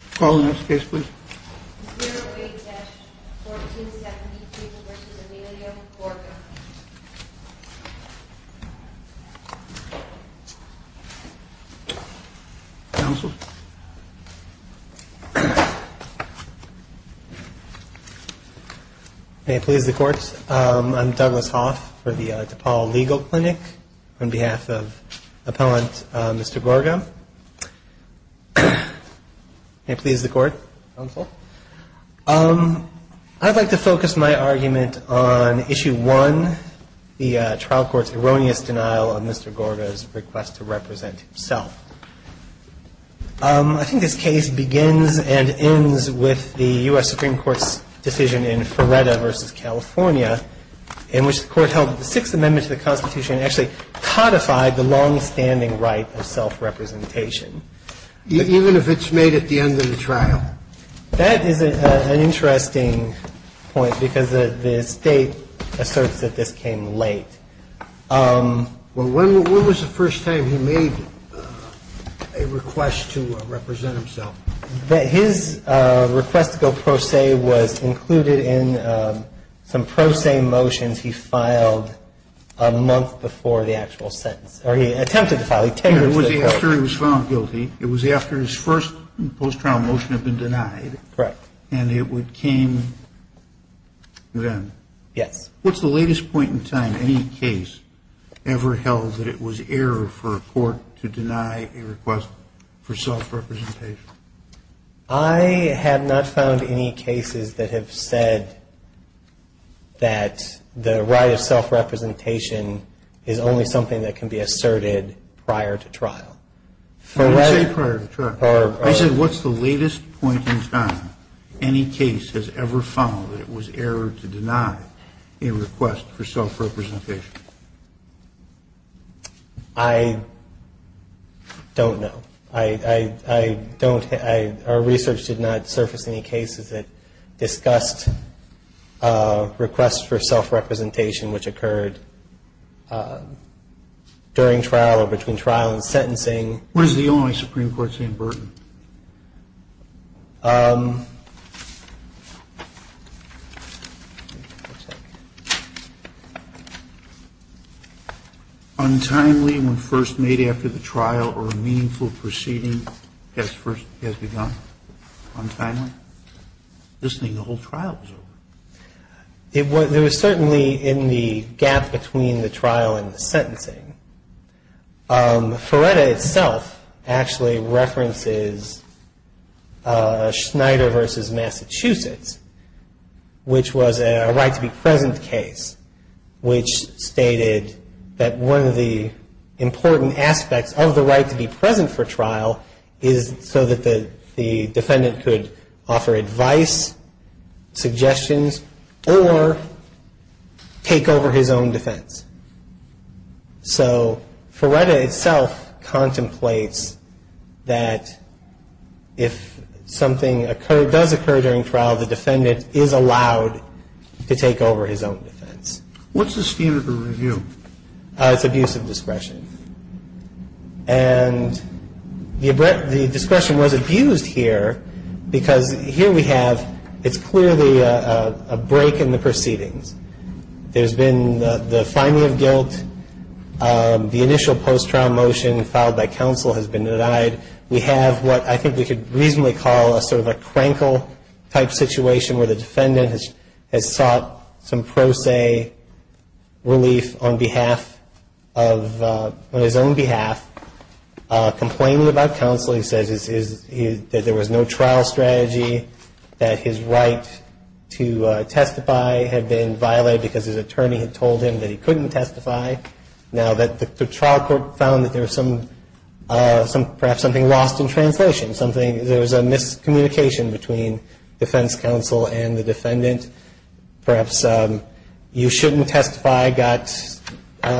08-1473 v. Emilio Gorgon. Counsel? May it please the court, I'm Douglas Hoff for the DePaul Legal Clinic. On behalf of Appellant Mr. Gorgon. May it please the court, counsel. I'd like to focus my argument on Issue 1, the trial court's erroneous denial of Mr. Gorgon's request to represent himself. I think this case begins and ends with the U.S. Supreme Court's decision in Feretta v. California, in which the court held that the Sixth Amendment to the Constitution actually codified the longstanding right of self-representation. Even if it's made at the end of the trial? That is an interesting point because the State asserts that this came late. Well, when was the first time he made a request to represent himself? His request to go pro se was included in some pro se motions he filed a month before the actual sentence. Or he attempted to file it. It was after he was found guilty. It was after his first post-trial motion had been denied. Correct. And it came then. Yes. What's the latest point in time any case ever held that it was error for a court to deny a request for self-representation? I have not found any cases that have said that the right of self-representation is only something that can be asserted prior to trial. I didn't say prior to trial. I said what's the latest point in time any case has ever found that it was error to deny a request for self-representation? I don't know. Our research did not surface any cases that discussed requests for self-representation which occurred during trial or between trial and sentencing. What does the Illinois Supreme Court say in Burton? Untimely when first made after the trial or a meaningful proceeding has begun? Untimely? This thing the whole trial was over. There was certainly in the gap between the trial and the sentencing. Feretta itself actually references Schneider v. Massachusetts, which was a right to be present case, which stated that one of the important aspects of the right to be present for trial is so that the defendant could offer advice, suggestions, or take over his own defense. So Feretta itself contemplates that if something does occur during trial, the defendant is allowed to take over his own defense. What's the scheme of the review? It's abuse of discretion. And the discretion was abused here because here we have it's clearly a break in the proceedings. There's been the finding of guilt. The initial post-trial motion filed by counsel has been denied. We have what I think we could reasonably call a sort of a crankle type situation where the defendant has sought some pro se relief on his own behalf, complaining about counsel. He says that there was no trial strategy, that his right to testify had been violated because his attorney had told him that he couldn't testify. Now, the trial court found that there was perhaps something lost in translation. There was a miscommunication between defense counsel and the defendant. Perhaps you shouldn't testify got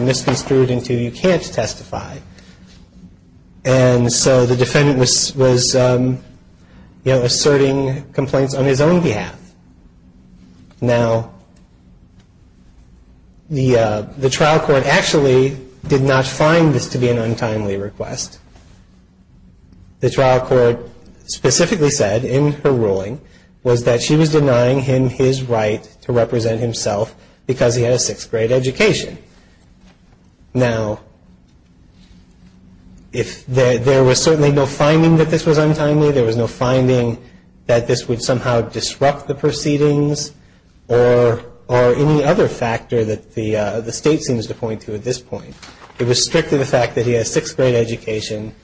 misconstrued into you can't testify. And so the defendant was asserting complaints on his own behalf. Now, the trial court actually did not find this to be an untimely request. The trial court specifically said in her ruling was that she was denying him his right to represent himself because he had a sixth grade education. Now, if there was certainly no finding that this was untimely, there was no finding that this would somehow disrupt the proceedings or any other factor that the state seems to point to at this point. It was strictly the fact that he had a sixth grade education,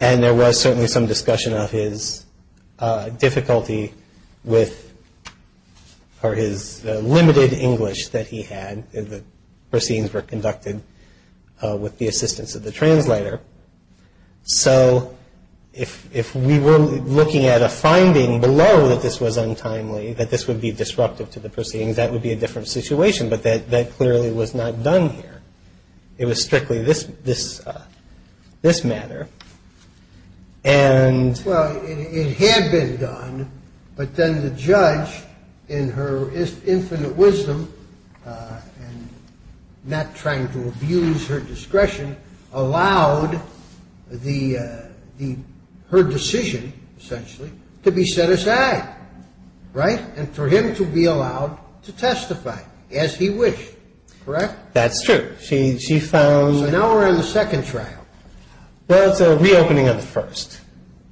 and there was certainly some discussion of his difficulty with or his limited English that he had. The proceedings were conducted with the assistance of the translator. So if we were looking at a finding below that this was untimely, that this would be disruptive to the proceedings, that would be a different situation, but that clearly was not done here. It was strictly this matter. Well, it had been done, but then the judge, in her infinite wisdom and not trying to abuse her discretion, allowed her decision, essentially, to be set aside, right? And for him to be allowed to testify as he wished. Correct? That's true. She found. So now we're in the second trial. Well, it's a reopening of the first.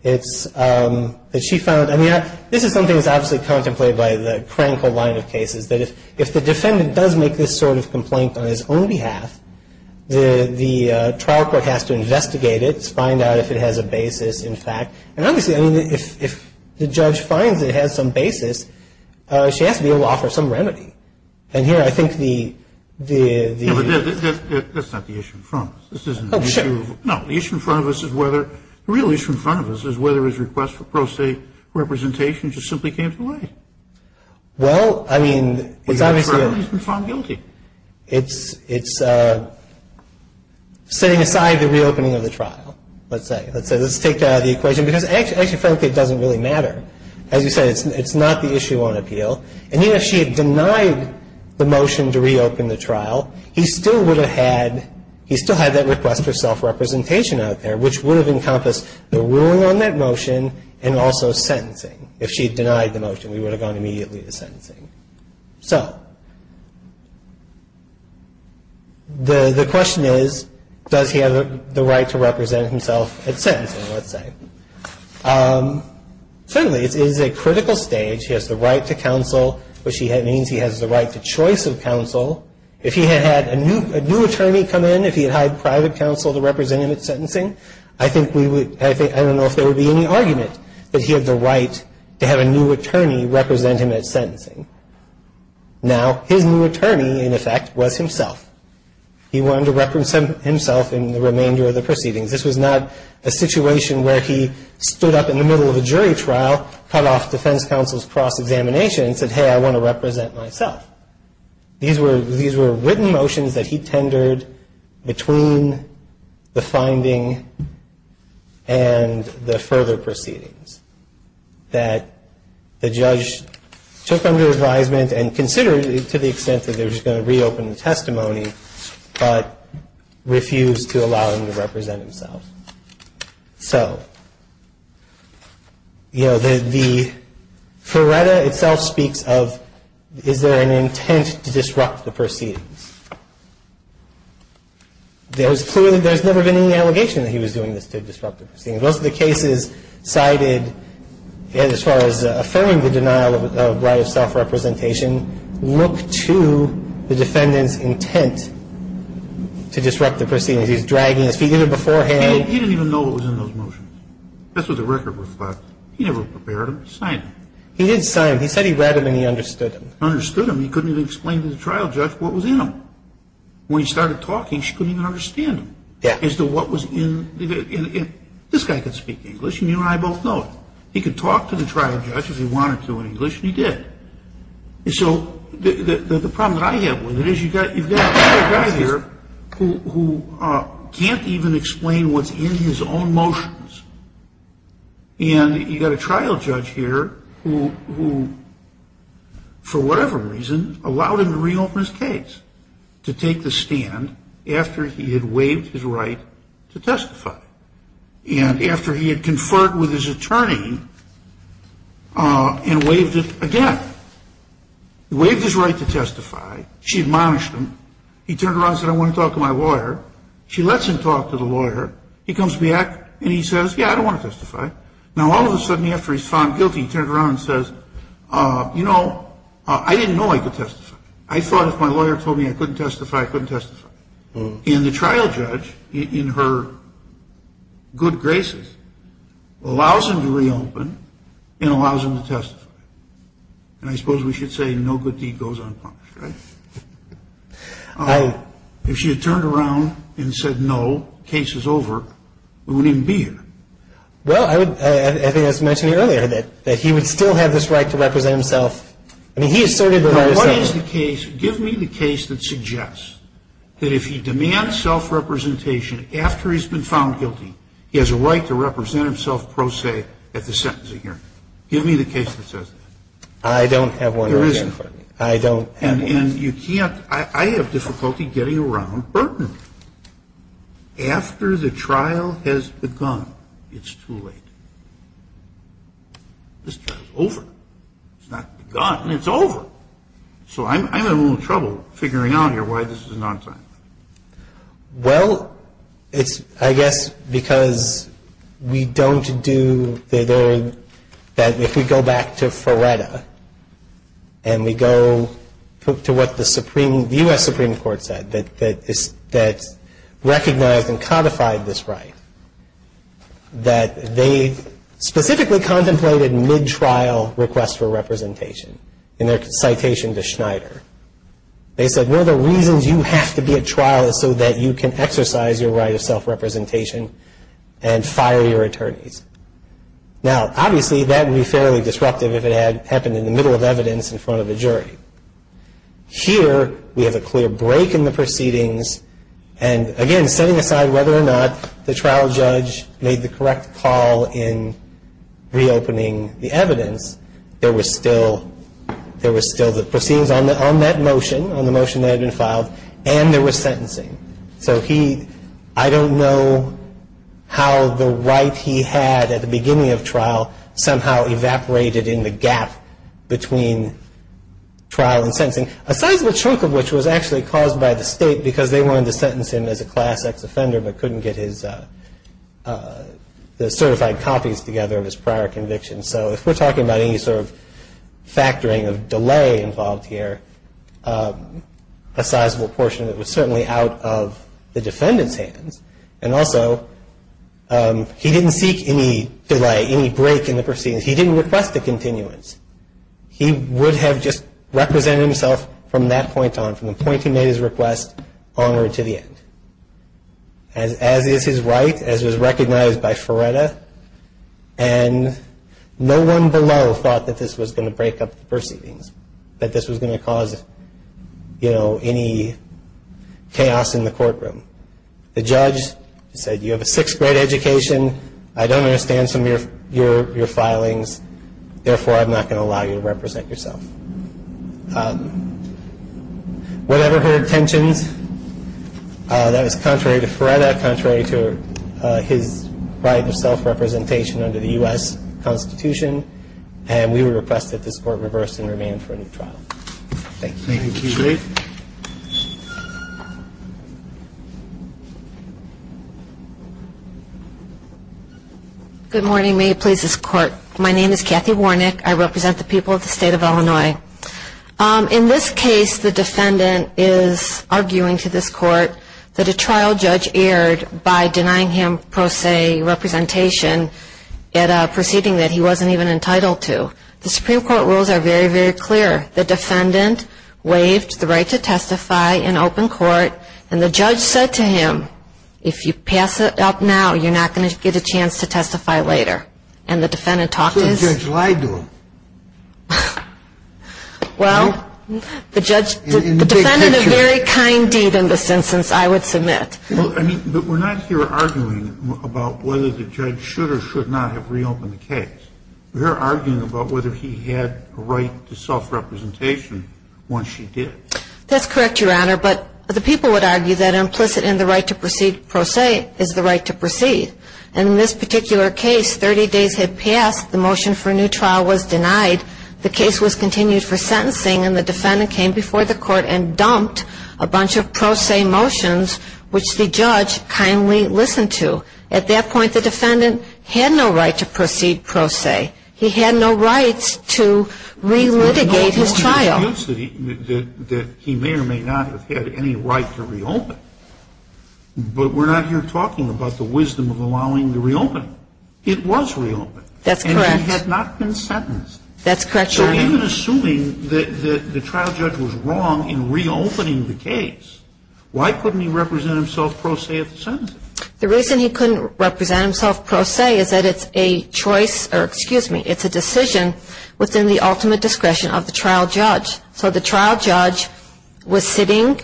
It's that she found. I mean, this is something that's obviously contemplated by the Krankle line of cases, that if the defendant does make this sort of complaint on his own behalf, the trial court has to investigate it, find out if it has a basis, in fact. And obviously, I mean, if the judge finds it has some basis, she has to be able to offer some remedy. And here, I think the. No, but that's not the issue in front of us. Oh, sure. No, the issue in front of us is whether, the real issue in front of us is whether his request for pro se representation just simply came to light. Well, I mean, it's obviously. He's been found guilty. It's setting aside the reopening of the trial, let's say. Let's take that out of the equation, because actually, frankly, it doesn't really matter. As you said, it's not the issue on appeal. And even if she had denied the motion to reopen the trial, he still would have had, he still had that request for self-representation out there, which would have encompassed the ruling on that motion and also sentencing. If she had denied the motion, we would have gone immediately to sentencing. So the question is, does he have the right to represent himself at sentencing, let's say. Certainly, it is a critical stage. He has the right to counsel, which means he has the right to choice of counsel. If he had had a new attorney come in, if he had hired private counsel to represent him at sentencing, I think we would, I don't know if there would be any argument that he had the right to have a new attorney represent him at sentencing. Now, his new attorney, in effect, was himself. He wanted to represent himself in the remainder of the proceedings. This was not a situation where he stood up in the middle of a jury trial, cut off defense counsel's cross-examination and said, hey, I want to represent myself. These were written motions that he tendered between the finding and the further proceedings that the judge took under advisement and considered it to the extent that they were just going to reopen the testimony but refused to allow him to represent himself. So, you know, the Ferretta itself speaks of, is there an intent to disrupt the proceedings? There's clearly, there's never been any allegation that he was doing this to disrupt the proceedings. Most of the cases cited, as far as affirming the denial of right of self-representation, look to the defendant's intent to disrupt the proceedings. He's dragging his feet in it beforehand. He didn't even know what was in those motions. That's what the record reflects. He never prepared them. He signed them. He did sign them. He said he read them and he understood them. He understood them. He couldn't even explain to the trial judge what was in them. When he started talking, she couldn't even understand him as to what was in the, and this guy could speak English and you and I both know it. He could talk to the trial judge if he wanted to in English and he did. So the problem that I have with it is you've got a guy here who can't even explain what's in his own motions and you've got a trial judge here who, for whatever reason, allowed him to reopen his case to take the stand after he had waived his right to testify and after he had conferred with his attorney and waived it again. He waived his right to testify. She admonished him. He turned around and said, I want to talk to my lawyer. She lets him talk to the lawyer. He comes back and he says, yeah, I don't want to testify. Now, all of a sudden, after he's found guilty, he turns around and says, you know, I didn't know I could testify. I thought if my lawyer told me I couldn't testify, I couldn't testify. And the trial judge, in her good graces, allows him to reopen and allows him to testify. And I suppose we should say no good deed goes unpunished, right? If she had turned around and said, no, case is over, we wouldn't even be in it. Well, I think I was mentioning earlier that he would still have this right to represent himself. Now, what is the case? Give me the case that suggests that if he demands self-representation after he's been found guilty, he has a right to represent himself pro se at the sentencing hearing. Give me the case that says that. I don't have one. There isn't. I don't have one. And you can't. I have difficulty getting around burden. After the trial has begun, it's too late. This trial is over. It's not begun. It's over. So I'm in a little trouble figuring out here why this is not done. Well, it's, I guess, because we don't do the, that if we go back to Feretta and we go to what the Supreme, the U.S. Supreme Court said, that recognized and codified this right, that they specifically contemplated mid-trial requests for representation in their citation to Schneider. They said, one of the reasons you have to be at trial is so that you can exercise your right of self-representation and fire your attorneys. Now, obviously, that would be fairly disruptive if it had happened in the middle of evidence in front of a jury. Here, we have a clear break in the proceedings, and, again, setting aside whether or not the trial judge made the correct call in reopening the evidence, there was still the proceedings on that motion, on the motion that had been filed, and there was sentencing. So he, I don't know how the right he had at the beginning of trial somehow evaporated in the gap between trial and sentencing, a sizable chunk of which was actually caused by the state because they wanted to sentence him as a Class X offender but couldn't get his, the certified copies together of his prior convictions. So if we're talking about any sort of factoring of delay involved here, a sizable portion of it was certainly out of the defendant's hands. And also, he didn't seek any delay, any break in the proceedings. He didn't request a continuance. He would have just represented himself from that point on, from the point he made his request onward to the end. As is his right, as was recognized by Feretta, and no one below thought that this was going to break up the proceedings, that this was going to cause, you know, any chaos in the courtroom. The judge said, you have a sixth grade education, I don't understand some of your filings, therefore I'm not going to allow you to represent yourself. Whatever her intentions, that was contrary to Feretta, contrary to his right of self-representation under the U.S. Constitution, and we would request that this court reverse and remand for a new trial. Thank you. Thank you, Jake. Good morning. May it please this Court. My name is Kathy Warnick. I represent the people of the State of Illinois. In this case, the defendant is arguing to this Court that a trial judge erred by denying him pro se representation at a proceeding that he wasn't even entitled to. The Supreme Court rules are very, very clear. The defendant waived the right to testify in open court, and the judge said to him, if you pass it up now, you're not going to get a chance to testify later. And the defendant talked his ---- So the judge lied to him. Well, the judge ---- In the big picture. The defendant did a very kind deed in this instance, I would submit. Well, I mean, but we're not here arguing about whether the judge should or should not have reopened the case. We're arguing about whether he had a right to self-representation once she did. That's correct, Your Honor. But the people would argue that implicit in the right to proceed pro se is the right to proceed. And in this particular case, 30 days had passed. The motion for a new trial was denied. The case was continued for sentencing, and the defendant came before the Court and dumped a bunch of pro se motions, which the judge kindly listened to. At that point, the defendant had no right to proceed pro se. He had no rights to relitigate his trial. He may or may not have had any right to reopen. But we're not here talking about the wisdom of allowing the reopening. It was reopened. That's correct. And he had not been sentenced. That's correct, Your Honor. So even assuming that the trial judge was wrong in reopening the case, why couldn't he represent himself pro se at the sentencing? The reason he couldn't represent himself pro se is that it's a choice or, excuse me, it's a decision within the ultimate discretion of the trial judge. So the trial judge was sitting,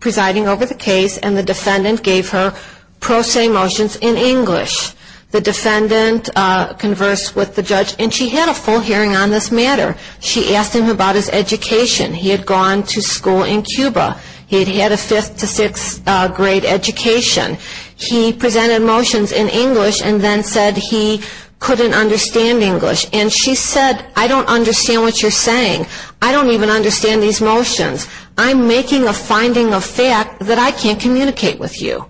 presiding over the case, and the defendant gave her pro se motions in English. The defendant conversed with the judge, and she had a full hearing on this matter. She asked him about his education. He had gone to school in Cuba. He had had a fifth to sixth grade education. He presented motions in English and then said he couldn't understand English. And she said, I don't understand what you're saying. I don't even understand these motions. I'm making a finding of fact that I can't communicate with you.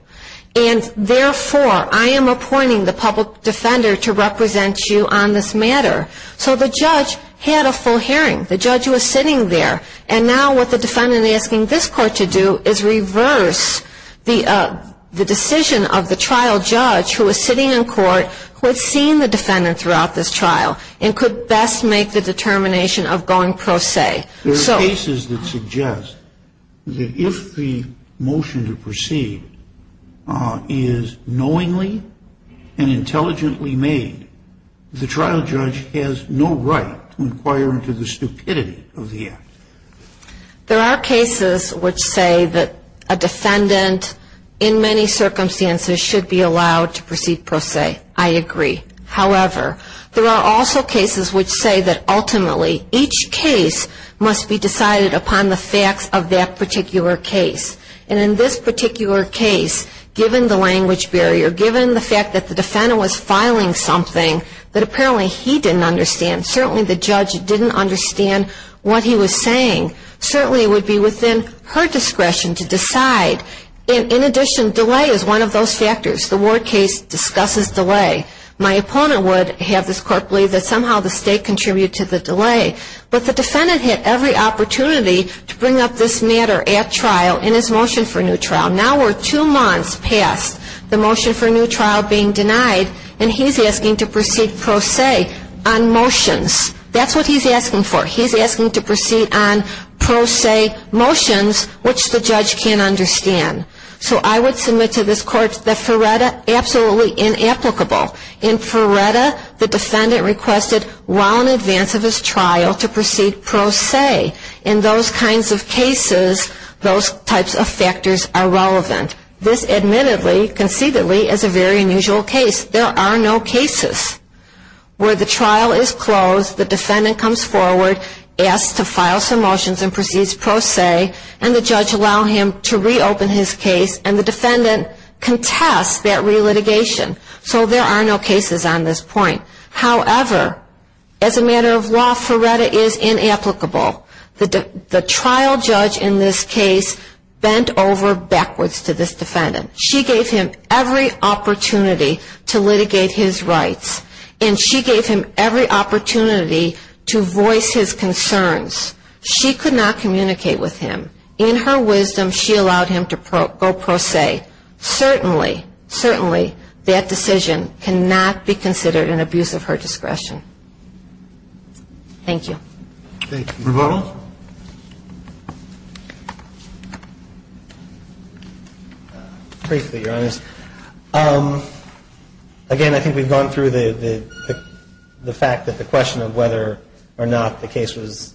And, therefore, I am appointing the public defender to represent you on this matter. So the judge had a full hearing. The judge was sitting there. And now what the defendant is asking this court to do is reverse the decision of the trial judge, who was sitting in court, who had seen the defendant throughout this trial, and could best make the determination of going pro se. There are cases that suggest that if the motion to proceed is knowingly and intelligently made, the trial judge has no right to inquire into the stupidity of the act. There are cases which say that a defendant, in many circumstances, should be allowed to proceed pro se. I agree. However, there are also cases which say that, ultimately, each case must be decided upon the facts of that particular case. And in this particular case, given the language barrier, given the fact that the defendant was filing something that apparently he didn't understand, certainly the judge didn't understand what he was saying, certainly it would be within her discretion to decide. In addition, delay is one of those factors. The Ward case discusses delay. My opponent would have this court believe that somehow the state contributed to the delay. But the defendant had every opportunity to bring up this matter at trial in his motion for new trial. Now we're two months past the motion for new trial being denied, and he's asking to proceed pro se on motions. That's what he's asking for. He's asking to proceed on pro se motions, which the judge can't understand. So I would submit to this court that Feretta, absolutely inapplicable. In Feretta, the defendant requested well in advance of his trial to proceed pro se. In those kinds of cases, those types of factors are relevant. This admittedly, conceitedly, is a very unusual case. There are no cases where the trial is closed, the defendant comes forward, asks to file some motions and proceeds pro se, and the judge allows him to reopen his case, and the defendant contests that relitigation. So there are no cases on this point. However, as a matter of law, Feretta is inapplicable. The trial judge in this case bent over backwards to this defendant. She gave him every opportunity to litigate his rights, and she gave him every opportunity to voice his concerns. She could not communicate with him. In her wisdom, she allowed him to go pro se. Certainly, certainly, that decision cannot be considered an abuse of her discretion. Thank you. Thank you. Rebuttal? Briefly, Your Honors. Again, I think we've gone through the fact that the question of whether or not the case was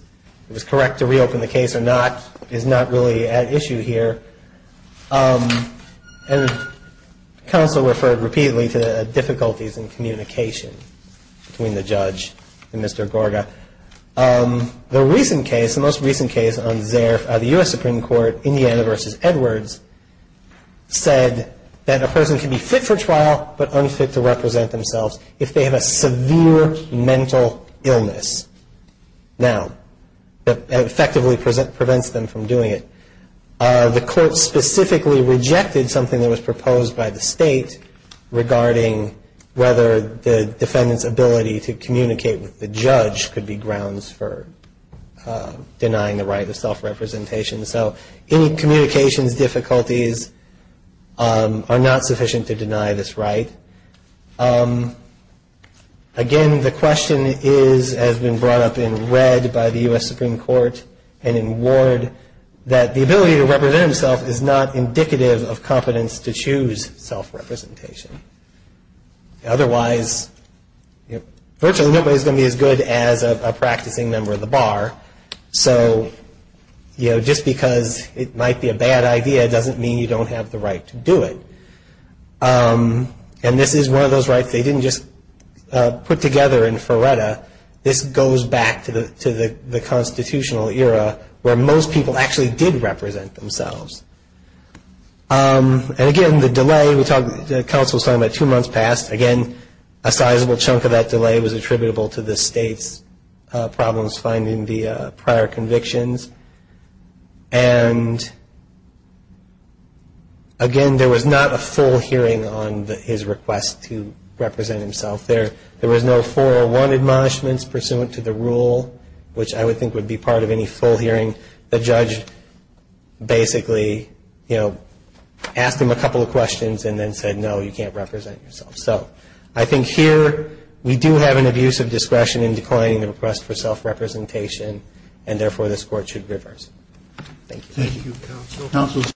correct to reopen the case or not is not really at issue here. And counsel referred repeatedly to difficulties in communication between the judge and Mr. Gorga. The recent case, the most recent case on Zerf, the U.S. Supreme Court, Indiana v. Edwards, said that a person can be fit for trial but unfit to represent themselves if they have a severe mental illness. Now, that effectively prevents them from doing it. The court specifically rejected something that was proposed by the state regarding whether the defendant's ability to communicate with the judge could be grounds for denying the right of self-representation. So any communications difficulties are not sufficient to deny this right. Again, the question has been brought up in red by the U.S. Supreme Court and in Ward that the ability to represent himself is not indicative of competence to choose self-representation. Otherwise, virtually nobody is going to be as good as a practicing member of the bar. So, you know, just because it might be a bad idea doesn't mean you don't have the right to do it. And this is one of those rights they didn't just put together in FRERETA. This goes back to the constitutional era where most people actually did represent themselves. And again, the delay, the counsel was talking about two months past. Again, a sizable chunk of that delay was attributable to the state's problems finding the prior convictions. And again, there was not a full hearing on his request to represent himself. There was no 401 admonishments pursuant to the rule, which I would think would be part of any full hearing. The judge basically, you know, asked him a couple of questions and then said, no, you can't represent yourself. So I think here we do have an abuse of discretion in declining the request for self-representation, and therefore this Court should reverse it. Thank you. Thank you, counsel.